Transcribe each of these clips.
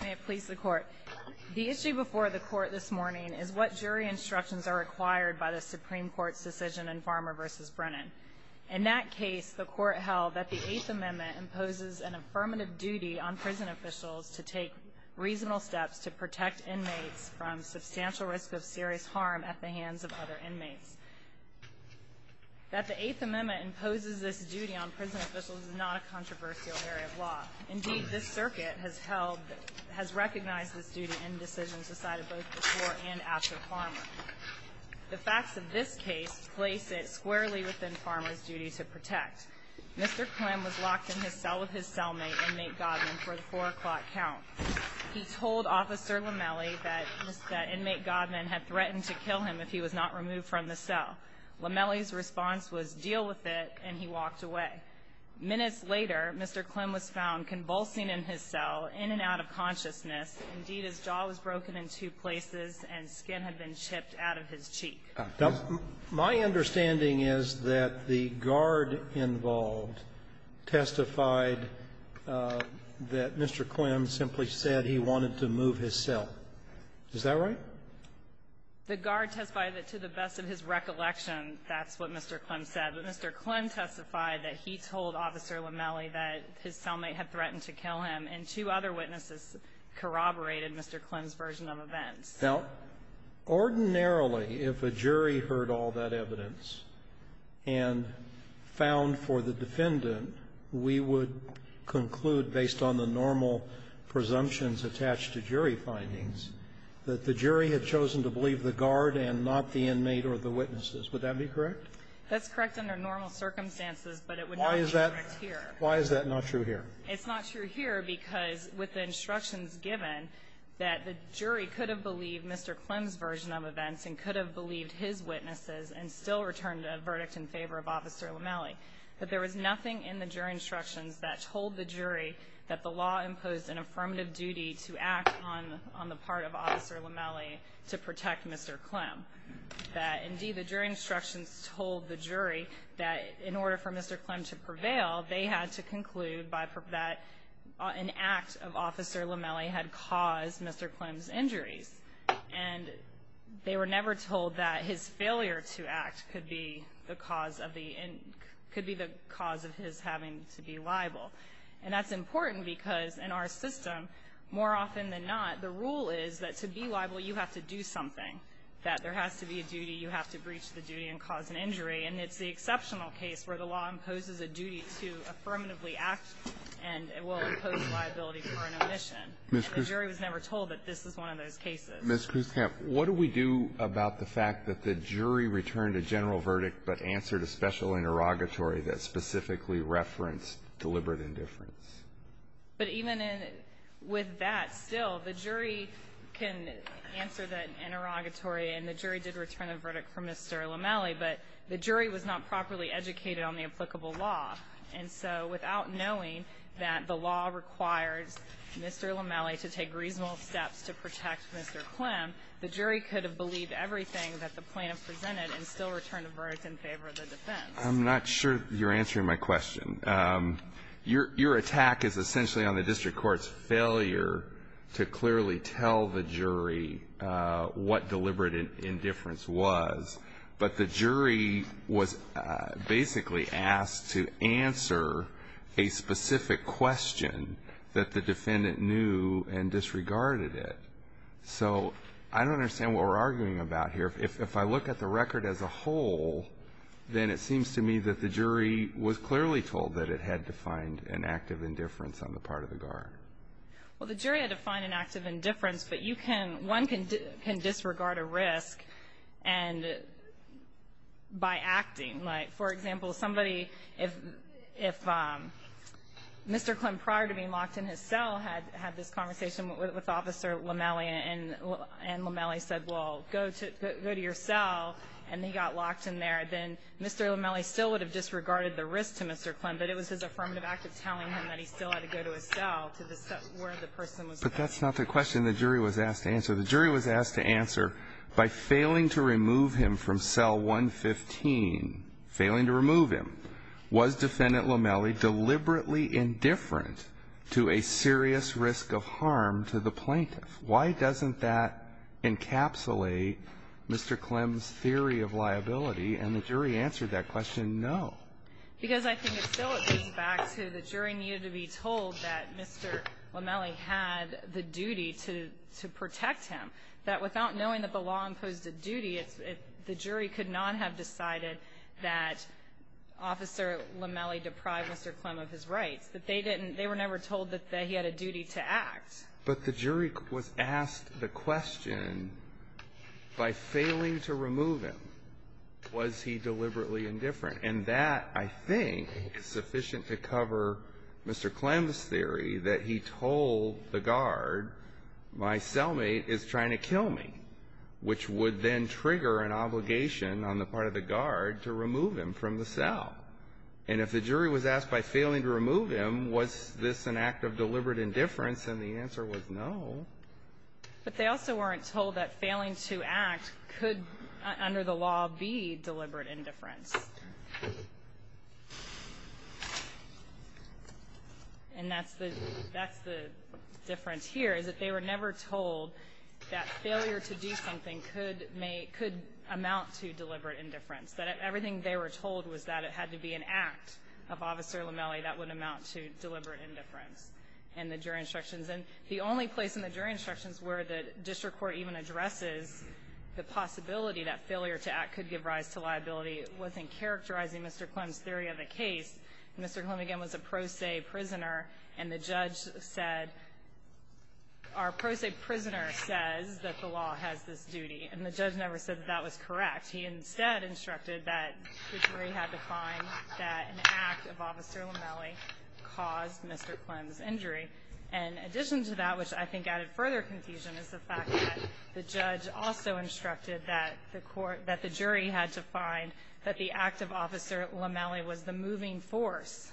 May it please the Court. The issue before the Court this morning is what jury instructions are required by the Supreme Court's decision in Farmer v. Brennan. In that case, the Court held that the Eighth Amendment imposes an affirmative duty on prison officials to take reasonable steps to protect inmates from substantial risk of serious harm at the hands of other inmates. That the Eighth Amendment imposes this duty on prison officials is not a controversial area of law. Indeed, this circuit has recognized this duty in decisions decided both before and after Farmer. The facts of this case place it squarely within Farmer's duty to protect. Mr. Clem was locked in his cell with his cellmate, inmate Godman, for the 4 o'clock count. He told Officer Lomeli that Mr. Inmate Godman had threatened to kill him if he was not removed from the cell. Lomeli's response was, deal with it, and he walked away. Minutes later, Mr. Clem was found convulsing in his cell, in and out of consciousness. Indeed, his jaw was broken in two places and skin had been chipped out of his cheek. Now, my understanding is that the guard involved testified that Mr. Clem simply said he wanted to move his cell. Is that right? The guard testified that, to the best of his recollection, that's what Mr. Clem said. But Mr. Clem testified that he told Officer Lomeli that his cellmate had threatened to kill him, and two other witnesses corroborated Mr. Clem's version of events. Now, ordinarily, if a jury heard all that evidence and found for the defendant, we would conclude, based on the normal presumptions attached to jury findings, that the jury had chosen to believe the guard and not the inmate or the witnesses. Would that be correct? That's correct under normal circumstances, but it would not be correct here. Why is that not true here? It's not true here because, with the instructions given, that the jury could have believed Mr. Clem's version of events and could have believed his witnesses and still returned a verdict in favor of Officer Lomeli. But there was nothing in the jury instructions that told the jury that the law imposed an affirmative duty to act on the part of Officer Lomeli to protect Mr. Clem. That, indeed, the jury instructions told the jury that, in order for Mr. Clem to prevail, they had to conclude that an act of Officer Lomeli had caused Mr. Clem's injuries. And they were never told that his failure to act could be the cause of the — could be the cause of his having to be liable. And that's important because, in our system, more often than not, the rule is that to be liable you have to do something, that there has to be a duty, you have to breach the duty and cause an injury. And it's the exceptional case where the law imposes a duty to affirmatively act and will impose liability for an omission. And the jury was never told that this was one of those cases. Alitoson, what do we do about the fact that the jury returned a general verdict but answered a special interrogatory that specifically referenced deliberate indifference? But even with that, still, the jury can answer that interrogatory, and the jury did not properly educate on the applicable law. And so without knowing that the law requires Mr. Lomeli to take reasonable steps to protect Mr. Clem, the jury could have believed everything that the plaintiff presented and still returned a verdict in favor of the defense. I'm not sure you're answering my question. Your attack is essentially on the district court's failure to clearly tell the jury what deliberate indifference was. But the jury was basically asked to answer a specific question that the defendant knew and disregarded it. So I don't understand what we're arguing about here. If I look at the record as a whole, then it seems to me that the jury was clearly told that it had defined an active indifference on the part of the guard. Well, the jury had defined an active indifference. But you can – one can disregard a risk and – by acting. Like, for example, somebody – if Mr. Clem, prior to being locked in his cell, had this conversation with Officer Lomeli, and Lomeli said, well, go to your cell, and he got locked in there, then Mr. Lomeli still would have disregarded the risk to Mr. Clem. But it was his affirmative act of telling him that he still had to go to his cell to the – where the person was kept. But that's not the question the jury was asked to answer. The jury was asked to answer, by failing to remove him from cell 115, failing to remove him, was Defendant Lomeli deliberately indifferent to a serious risk of harm to the plaintiff? Why doesn't that encapsulate Mr. Clem's theory of liability? And the jury answered that question, no. Because I think it still goes back to the jury needed to be told that Mr. Lomeli had the duty to protect him, that without knowing that the law imposed a duty, the jury could not have decided that Officer Lomeli deprived Mr. Clem of his rights, that they didn't – they were never told that he had a duty to act. But the jury was asked the question, by failing to remove him, was he deliberately indifferent? And that, I think, is sufficient to cover Mr. Clem's theory that he told the guard, my cellmate is trying to kill me, which would then trigger an obligation on the part of the guard to remove him from the cell. And if the jury was asked by failing to remove him, was this an act of deliberate indifference? And the answer was no. But they also weren't told that failing to act could, under the law, be deliberate indifference. And that's the difference here, is that they were never told that failure to do something could amount to deliberate indifference, that everything they were told was that it had to be an act of Officer Lomeli that would amount to deliberate indifference in the jury instructions. And the only place in the jury instructions where the district court even addresses the possibility that failure to act could give rise to liability was in characterizing Mr. Clem's theory of the case. Mr. Clem, again, was a pro se prisoner, and the judge said, our pro se prisoner says that the law has this duty. And the judge never said that that was correct. He instead instructed that the jury had to find that an act of Officer Lomeli caused Mr. Clem's injury. And in addition to that, which I think added further confusion, is the fact that the judge also instructed that the court, that the jury had to find that the act of Officer Lomeli was the moving force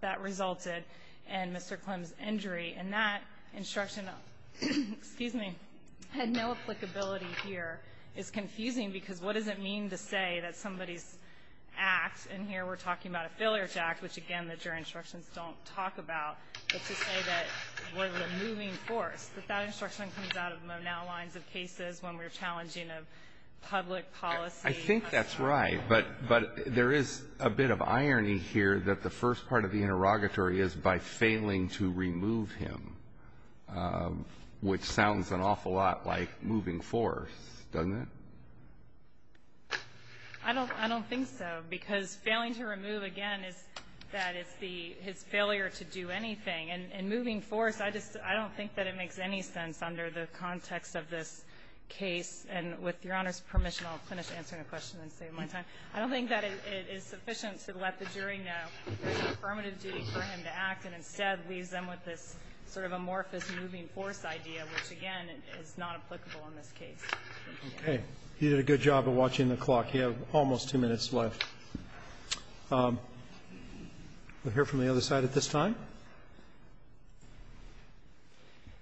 that resulted in Mr. Clem's injury. And that instruction, excuse me, had no applicability here. It's confusing because what does it mean to say that somebody's act, and here we're talking about a failure to act, which, again, the jury instructions don't talk about, but to say that we're the moving force, that that instruction comes out of now lines of cases when we're challenging a public policy. I think that's right, but there is a bit of irony here that the first part of the interrogatory is by failing to remove him, which sounds an awful lot like moving force, doesn't it? I don't think so. Because failing to remove, again, is that it's the his failure to do anything. And moving force, I just don't think that it makes any sense under the context of this case. And with Your Honor's permission, I'll finish answering a question and save my time. I don't think that it is sufficient to let the jury know that it's a affirmative duty for him to act, and instead leaves them with this sort of amorphous moving force idea, which, again, is not applicable in this case. Okay. You did a good job of watching the clock. You have almost two minutes left. We'll hear from the other side at this time.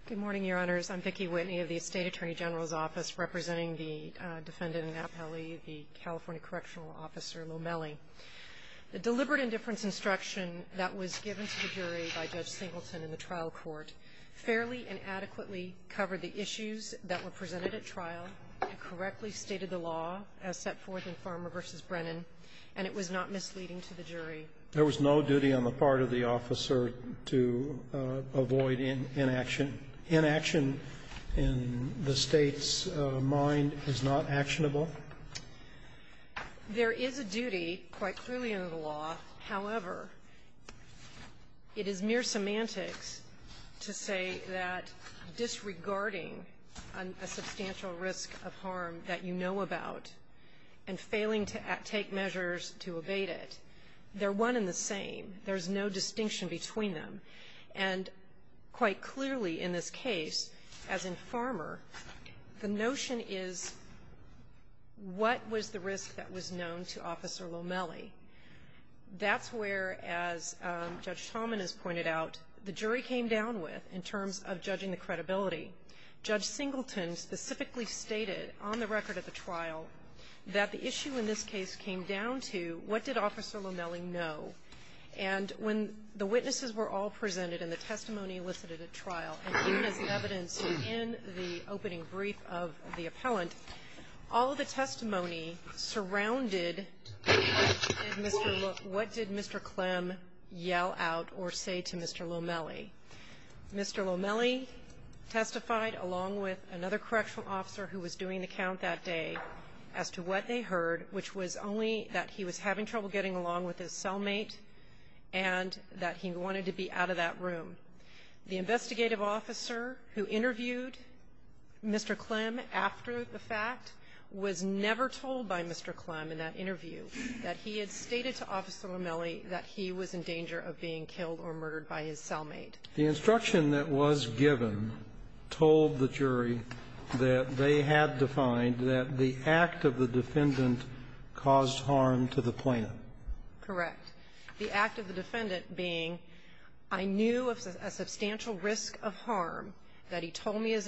Good morning, Your Honors. I'm Vicki Whitney of the State Attorney General's Office, representing the defendant in Appellee, the California Correctional Officer Lomelli. The deliberate indifference instruction that was given to the jury by Judge Singleton in the trial court fairly and adequately covered the issues that were presented at trial. It correctly stated the law as set forth in Farmer v. Brennan, and it was not misleading to the jury. There was no duty on the part of the officer to avoid inaction. Inaction in the State's mind is not actionable? There is a duty, quite clearly under the law. However, it is mere semantics to say that disregarding a substantial risk of harm that you know about and failing to take measures to evade it, they're one and the same. There's no distinction between them. And quite clearly in this case, as in Farmer, the notion is what was the risk that was known to Officer Lomelli. That's where, as Judge Talman has pointed out, the jury came down with in terms of judging the credibility. Judge Singleton specifically stated on the record at the trial that the issue in this case came down to what did Officer Lomelli know. And when the witnesses were all presented and the testimony elicited at trial, and even as evidence in the opening brief of the appellant, all of the testimony surrounded what did Mr. Clem yell out or say to Mr. Lomelli. Mr. Lomelli testified along with another correctional officer who was doing the count that day as to what they heard, which was only that he was having trouble getting along with his cellmate and that he wanted to be out of that room. The investigative officer who interviewed Mr. Clem after the fact was never told by Mr. Clem in that interview that he had stated to Officer Lomelli that he was in danger of being killed or murdered by his cellmate. The instruction that was given told the jury that they had defined that the act of the defendant caused harm to the plaintiff. Correct. The act of the defendant being, I knew of a substantial risk of harm that he told me his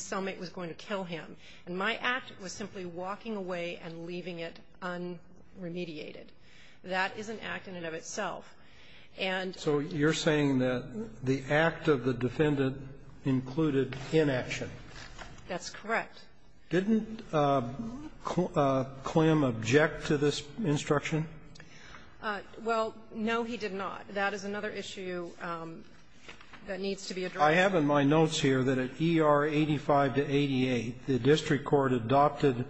cellmate was going to kill him. And my act was simply walking away and leaving it un-remediated. That is an act in and of itself. And so you're saying that the act of the defendant included inaction. That's correct. Didn't Clem object to this instruction? Well, no, he did not. That is another issue that needs to be addressed. I have in my notes here that at ER 85 to 88, the district court adopted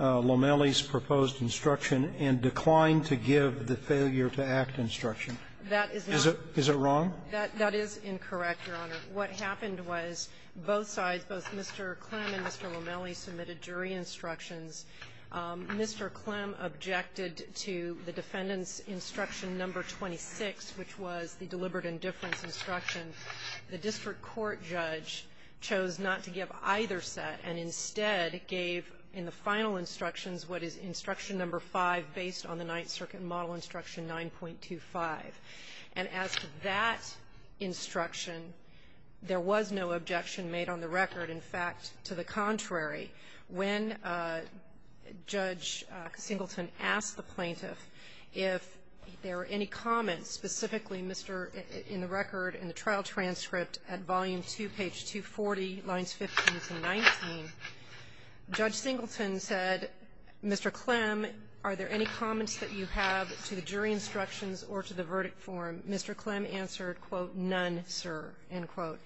Lomelli's proposed instruction and declined to give the failure-to-act instruction. That is not the case. Is it wrong? That is incorrect, Your Honor. What happened was both sides, both Mr. Clem and Mr. Lomelli, submitted jury instructions. Mr. Clem objected to the defendant's instruction number 26, which was the deliberate indifference instruction. The district court judge chose not to give either set and instead gave in the final instructions what is instruction number 5 based on the Ninth Circuit model instruction 9.25. And as to that instruction, there was no objection made on the record. In fact, to the contrary, when Judge Singleton asked the plaintiff if there were any comments specifically, Mr. — in the record, in the trial transcript at volume 2, page 240, lines 15 to 19, Judge Singleton said, Mr. Clem, are there any comments that you have to the jury instructions or to the verdict form? Mr. Clem answered, quote, none, sir, end quote.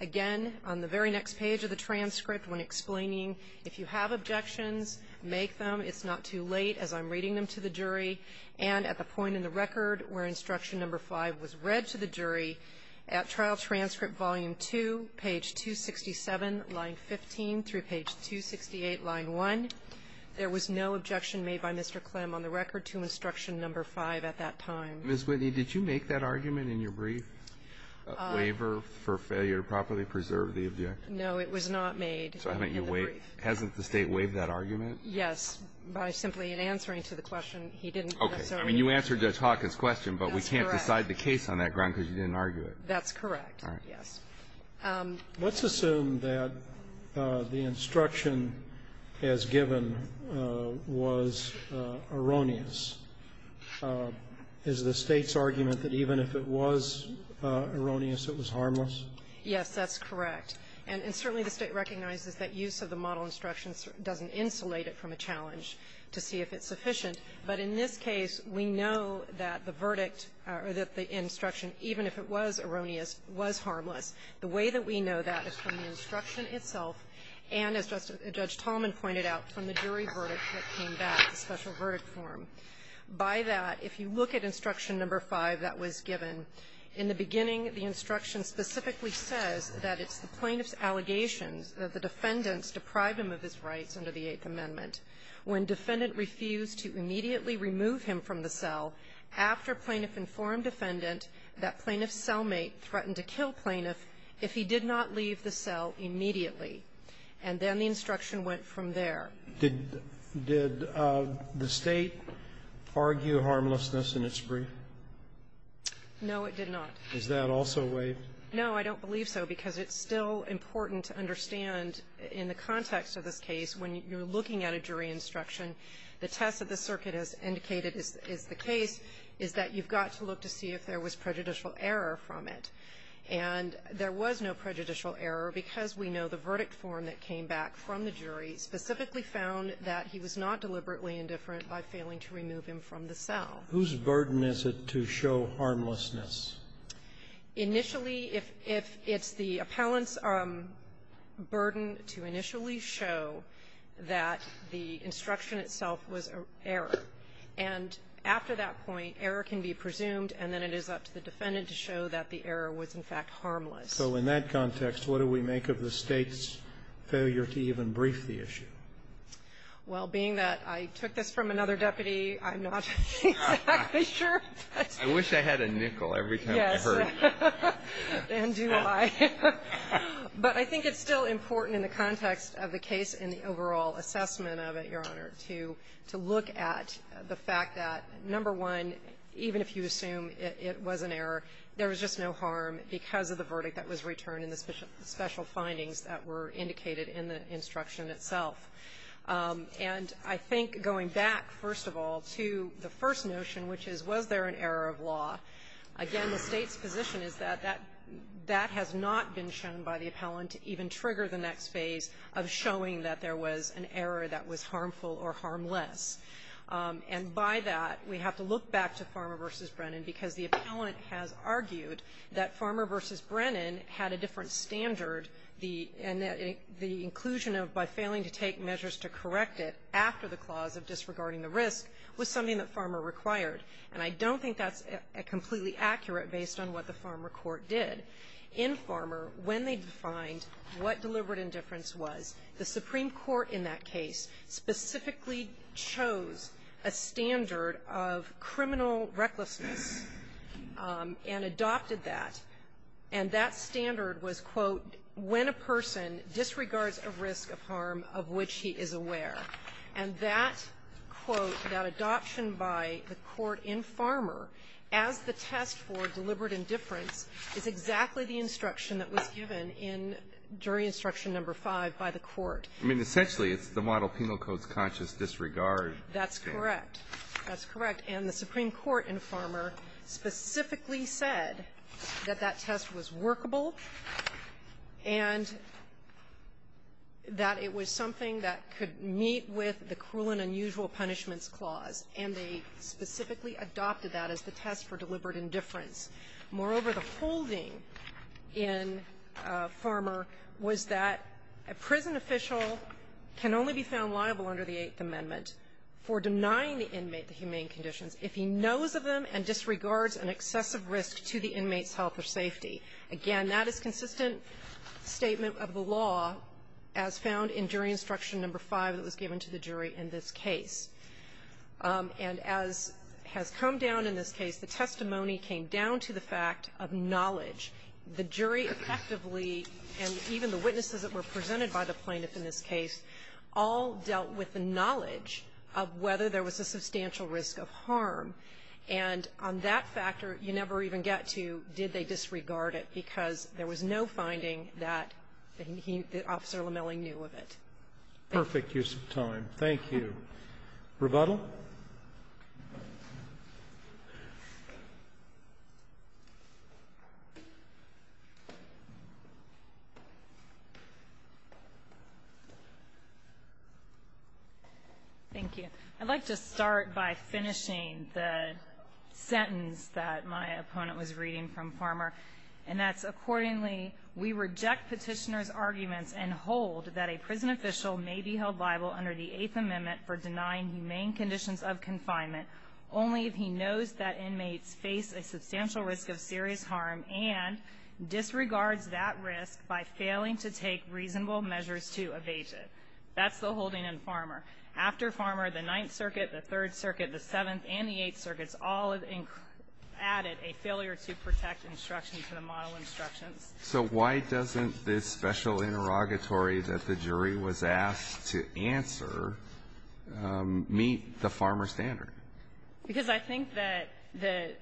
Again, on the very next page of the transcript, when explaining, if you have objections, make them. It's not too late, as I'm reading them to the jury. And at the point in the record where instruction number 5 was read to the jury, at trial transcript volume 2, page 267, line 15 through page 268, line 1, there was no objection made by Mr. Clem on the record to instruction number 5 at that time. Ms. Whitney, did you make that argument in your brief, waiver for failure to properly preserve the objection? No, it was not made in the brief. So haven't you waived — hasn't the State waived that argument? Yes. By simply answering to the question, he didn't necessarily — Okay. I mean, you answered Judge Hawkins' question, but we can't decide the case on that ground because you didn't argue it. That's correct. All right. Yes. Let's assume that the instruction as given was erroneous. Is the State's argument that even if it was erroneous, it was harmless? Yes, that's correct. And certainly the State recognizes that use of the model instructions doesn't insulate it from a challenge to see if it's sufficient. But in this case, we know that the verdict or that the instruction, even if it was erroneous, was harmless. The way that we know that is from the instruction itself and, as Judge Talman pointed out, from the jury verdict that came back, the special verdict form. By that, if you look at instruction number 5 that was given, in the beginning, the instruction specifically says that it's the plaintiff's allegations that the defendants deprived him of his rights under the Eighth Amendment. When defendant refused to immediately remove him from the cell, after plaintiff informed defendant that plaintiff's cellmate threatened to kill plaintiff if he did not leave the cell immediately, and then the instruction went from there. Did the State argue harmlessness in its brief? No, it did not. Is that also waived? No, I don't believe so, because it's still important to understand in the context of this case, when you're looking at a jury instruction, the test that the circuit has indicated is the case is that you've got to look to see if there was prejudicial error from it. And there was no prejudicial error because we know the verdict form that came back from the jury specifically found that he was not deliberately indifferent by failing to remove him from the cell. Whose burden is it to show harmlessness? Initially, if it's the appellant's burden to initially show that the instruction itself was error, and after that point, error can be presumed, and then it is up to the defendant to show that the error was, in fact, harmless. So in that context, what do we make of the State's failure to even brief the issue? Well, being that I took this from another deputy, I'm not exactly sure. I wish I had a nickel every time I heard that. Yes. And do I. But I think it's still important in the context of the case and the overall assessment of it, Your Honor, to look at the fact that, number one, even if you assume it was an error, there was just no harm because of the verdict that was returned in the special findings that were indicated in the instruction itself. And I think going back, first of all, to the first notion, which is, was there an error of law, again, the State's position is that that has not been shown by the appellant to even trigger the next phase of showing that there was an error that was harmful or harmless. And by that, we have to look back to Farmer v. Brennan because the appellant has argued that Farmer v. Brennan had a different standard, and that the inclusion of by failing to take measures to correct it after the clause of disregarding the risk was something that Farmer required. And I don't think that's completely accurate based on what the Farmer court did. In Farmer, when they defined what deliberate indifference was, the Supreme Court in that case specifically chose a standard of criminal recklessness and adopted that, and that standard was, quote, when a person disregards a risk of harm of which he is aware. And that, quote, that adoption by the court in Farmer as the test for deliberate indifference is exactly the instruction that was given in during instruction number 5 by the court. I mean, essentially, it's the model penal code's conscious disregard. That's correct. That's correct. And the Supreme Court in Farmer specifically said that that test was workable and that it was something that could meet with the cruel and unusual punishments clause. And they specifically adopted that as the test for deliberate indifference. Moreover, the holding in Farmer was that a prison official can only be found liable under the Eighth Amendment for denying the inmate the humane conditions if he knows of them and disregards an excessive risk to the inmate's health or safety. Again, that is consistent statement of the law as found in jury instruction number 5 that was given to the jury in this case. And as has come down in this case, the testimony came down to the fact of knowledge. The jury effectively, and even the witnesses that were presented by the plaintiff in this case, all dealt with the knowledge of whether there was a substantial risk of harm. And on that factor, you never even get to did they disregard it because there was no finding that he, that Officer Lamelli knew of it. Perfect use of time. Thank you. Rebuttal. Thank you. I'd like to start by finishing the sentence that my opponent was reading from Farmer, and that's accordingly, we reject petitioner's arguments and hold that a prison official may be held liable under the Eighth Amendment for denying humane conditions of confinement only if he knows that inmates face a substantial risk of serious harm and disregards that risk by failing to take reasonable measures to evade it. That's the holding in Farmer. After Farmer, the Ninth Circuit, the Third Circuit, the Seventh, and the Eighth So why doesn't this special interrogatory that the jury was asked to answer meet the Farmer standard? Because I think that the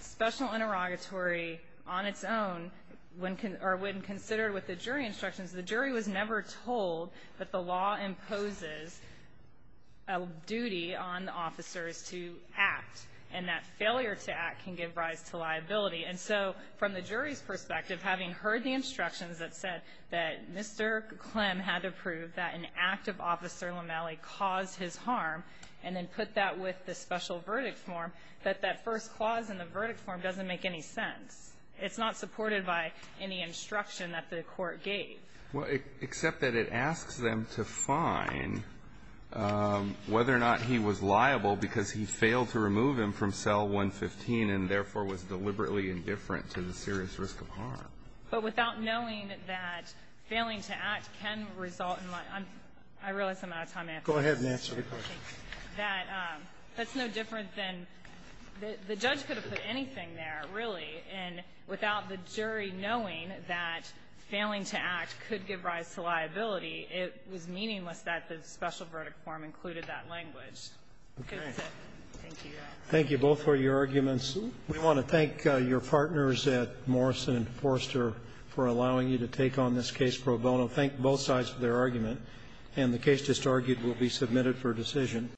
special interrogatory on its own, when considered with the jury instructions, the jury was never told that the law imposes a duty on officers to act, and that failure to act can give rise to liability. And so, from the jury's perspective, having heard the instructions that said that Mr. Clem had to prove that an active officer, LaMalle, caused his harm, and then put that with the special verdict form, that that first clause in the verdict form doesn't make any sense. It's not supported by any instruction that the court gave. Well, except that it asks them to find whether or not he was liable because he was being indifferent to the serious risk of harm. But without knowing that failing to act can result in liability, I realize I'm out of time to answer this. Go ahead and answer the question. That's no different than the judge could have put anything there, really, and without the jury knowing that failing to act could give rise to liability, it was meaningless that the special verdict form included that language. Okay. Thank you. Thank you both for your arguments. We want to thank your partners at Morrison and Forster for allowing you to take on this case pro bono. Thank both sides for their argument. And the case just argued will be submitted for decision.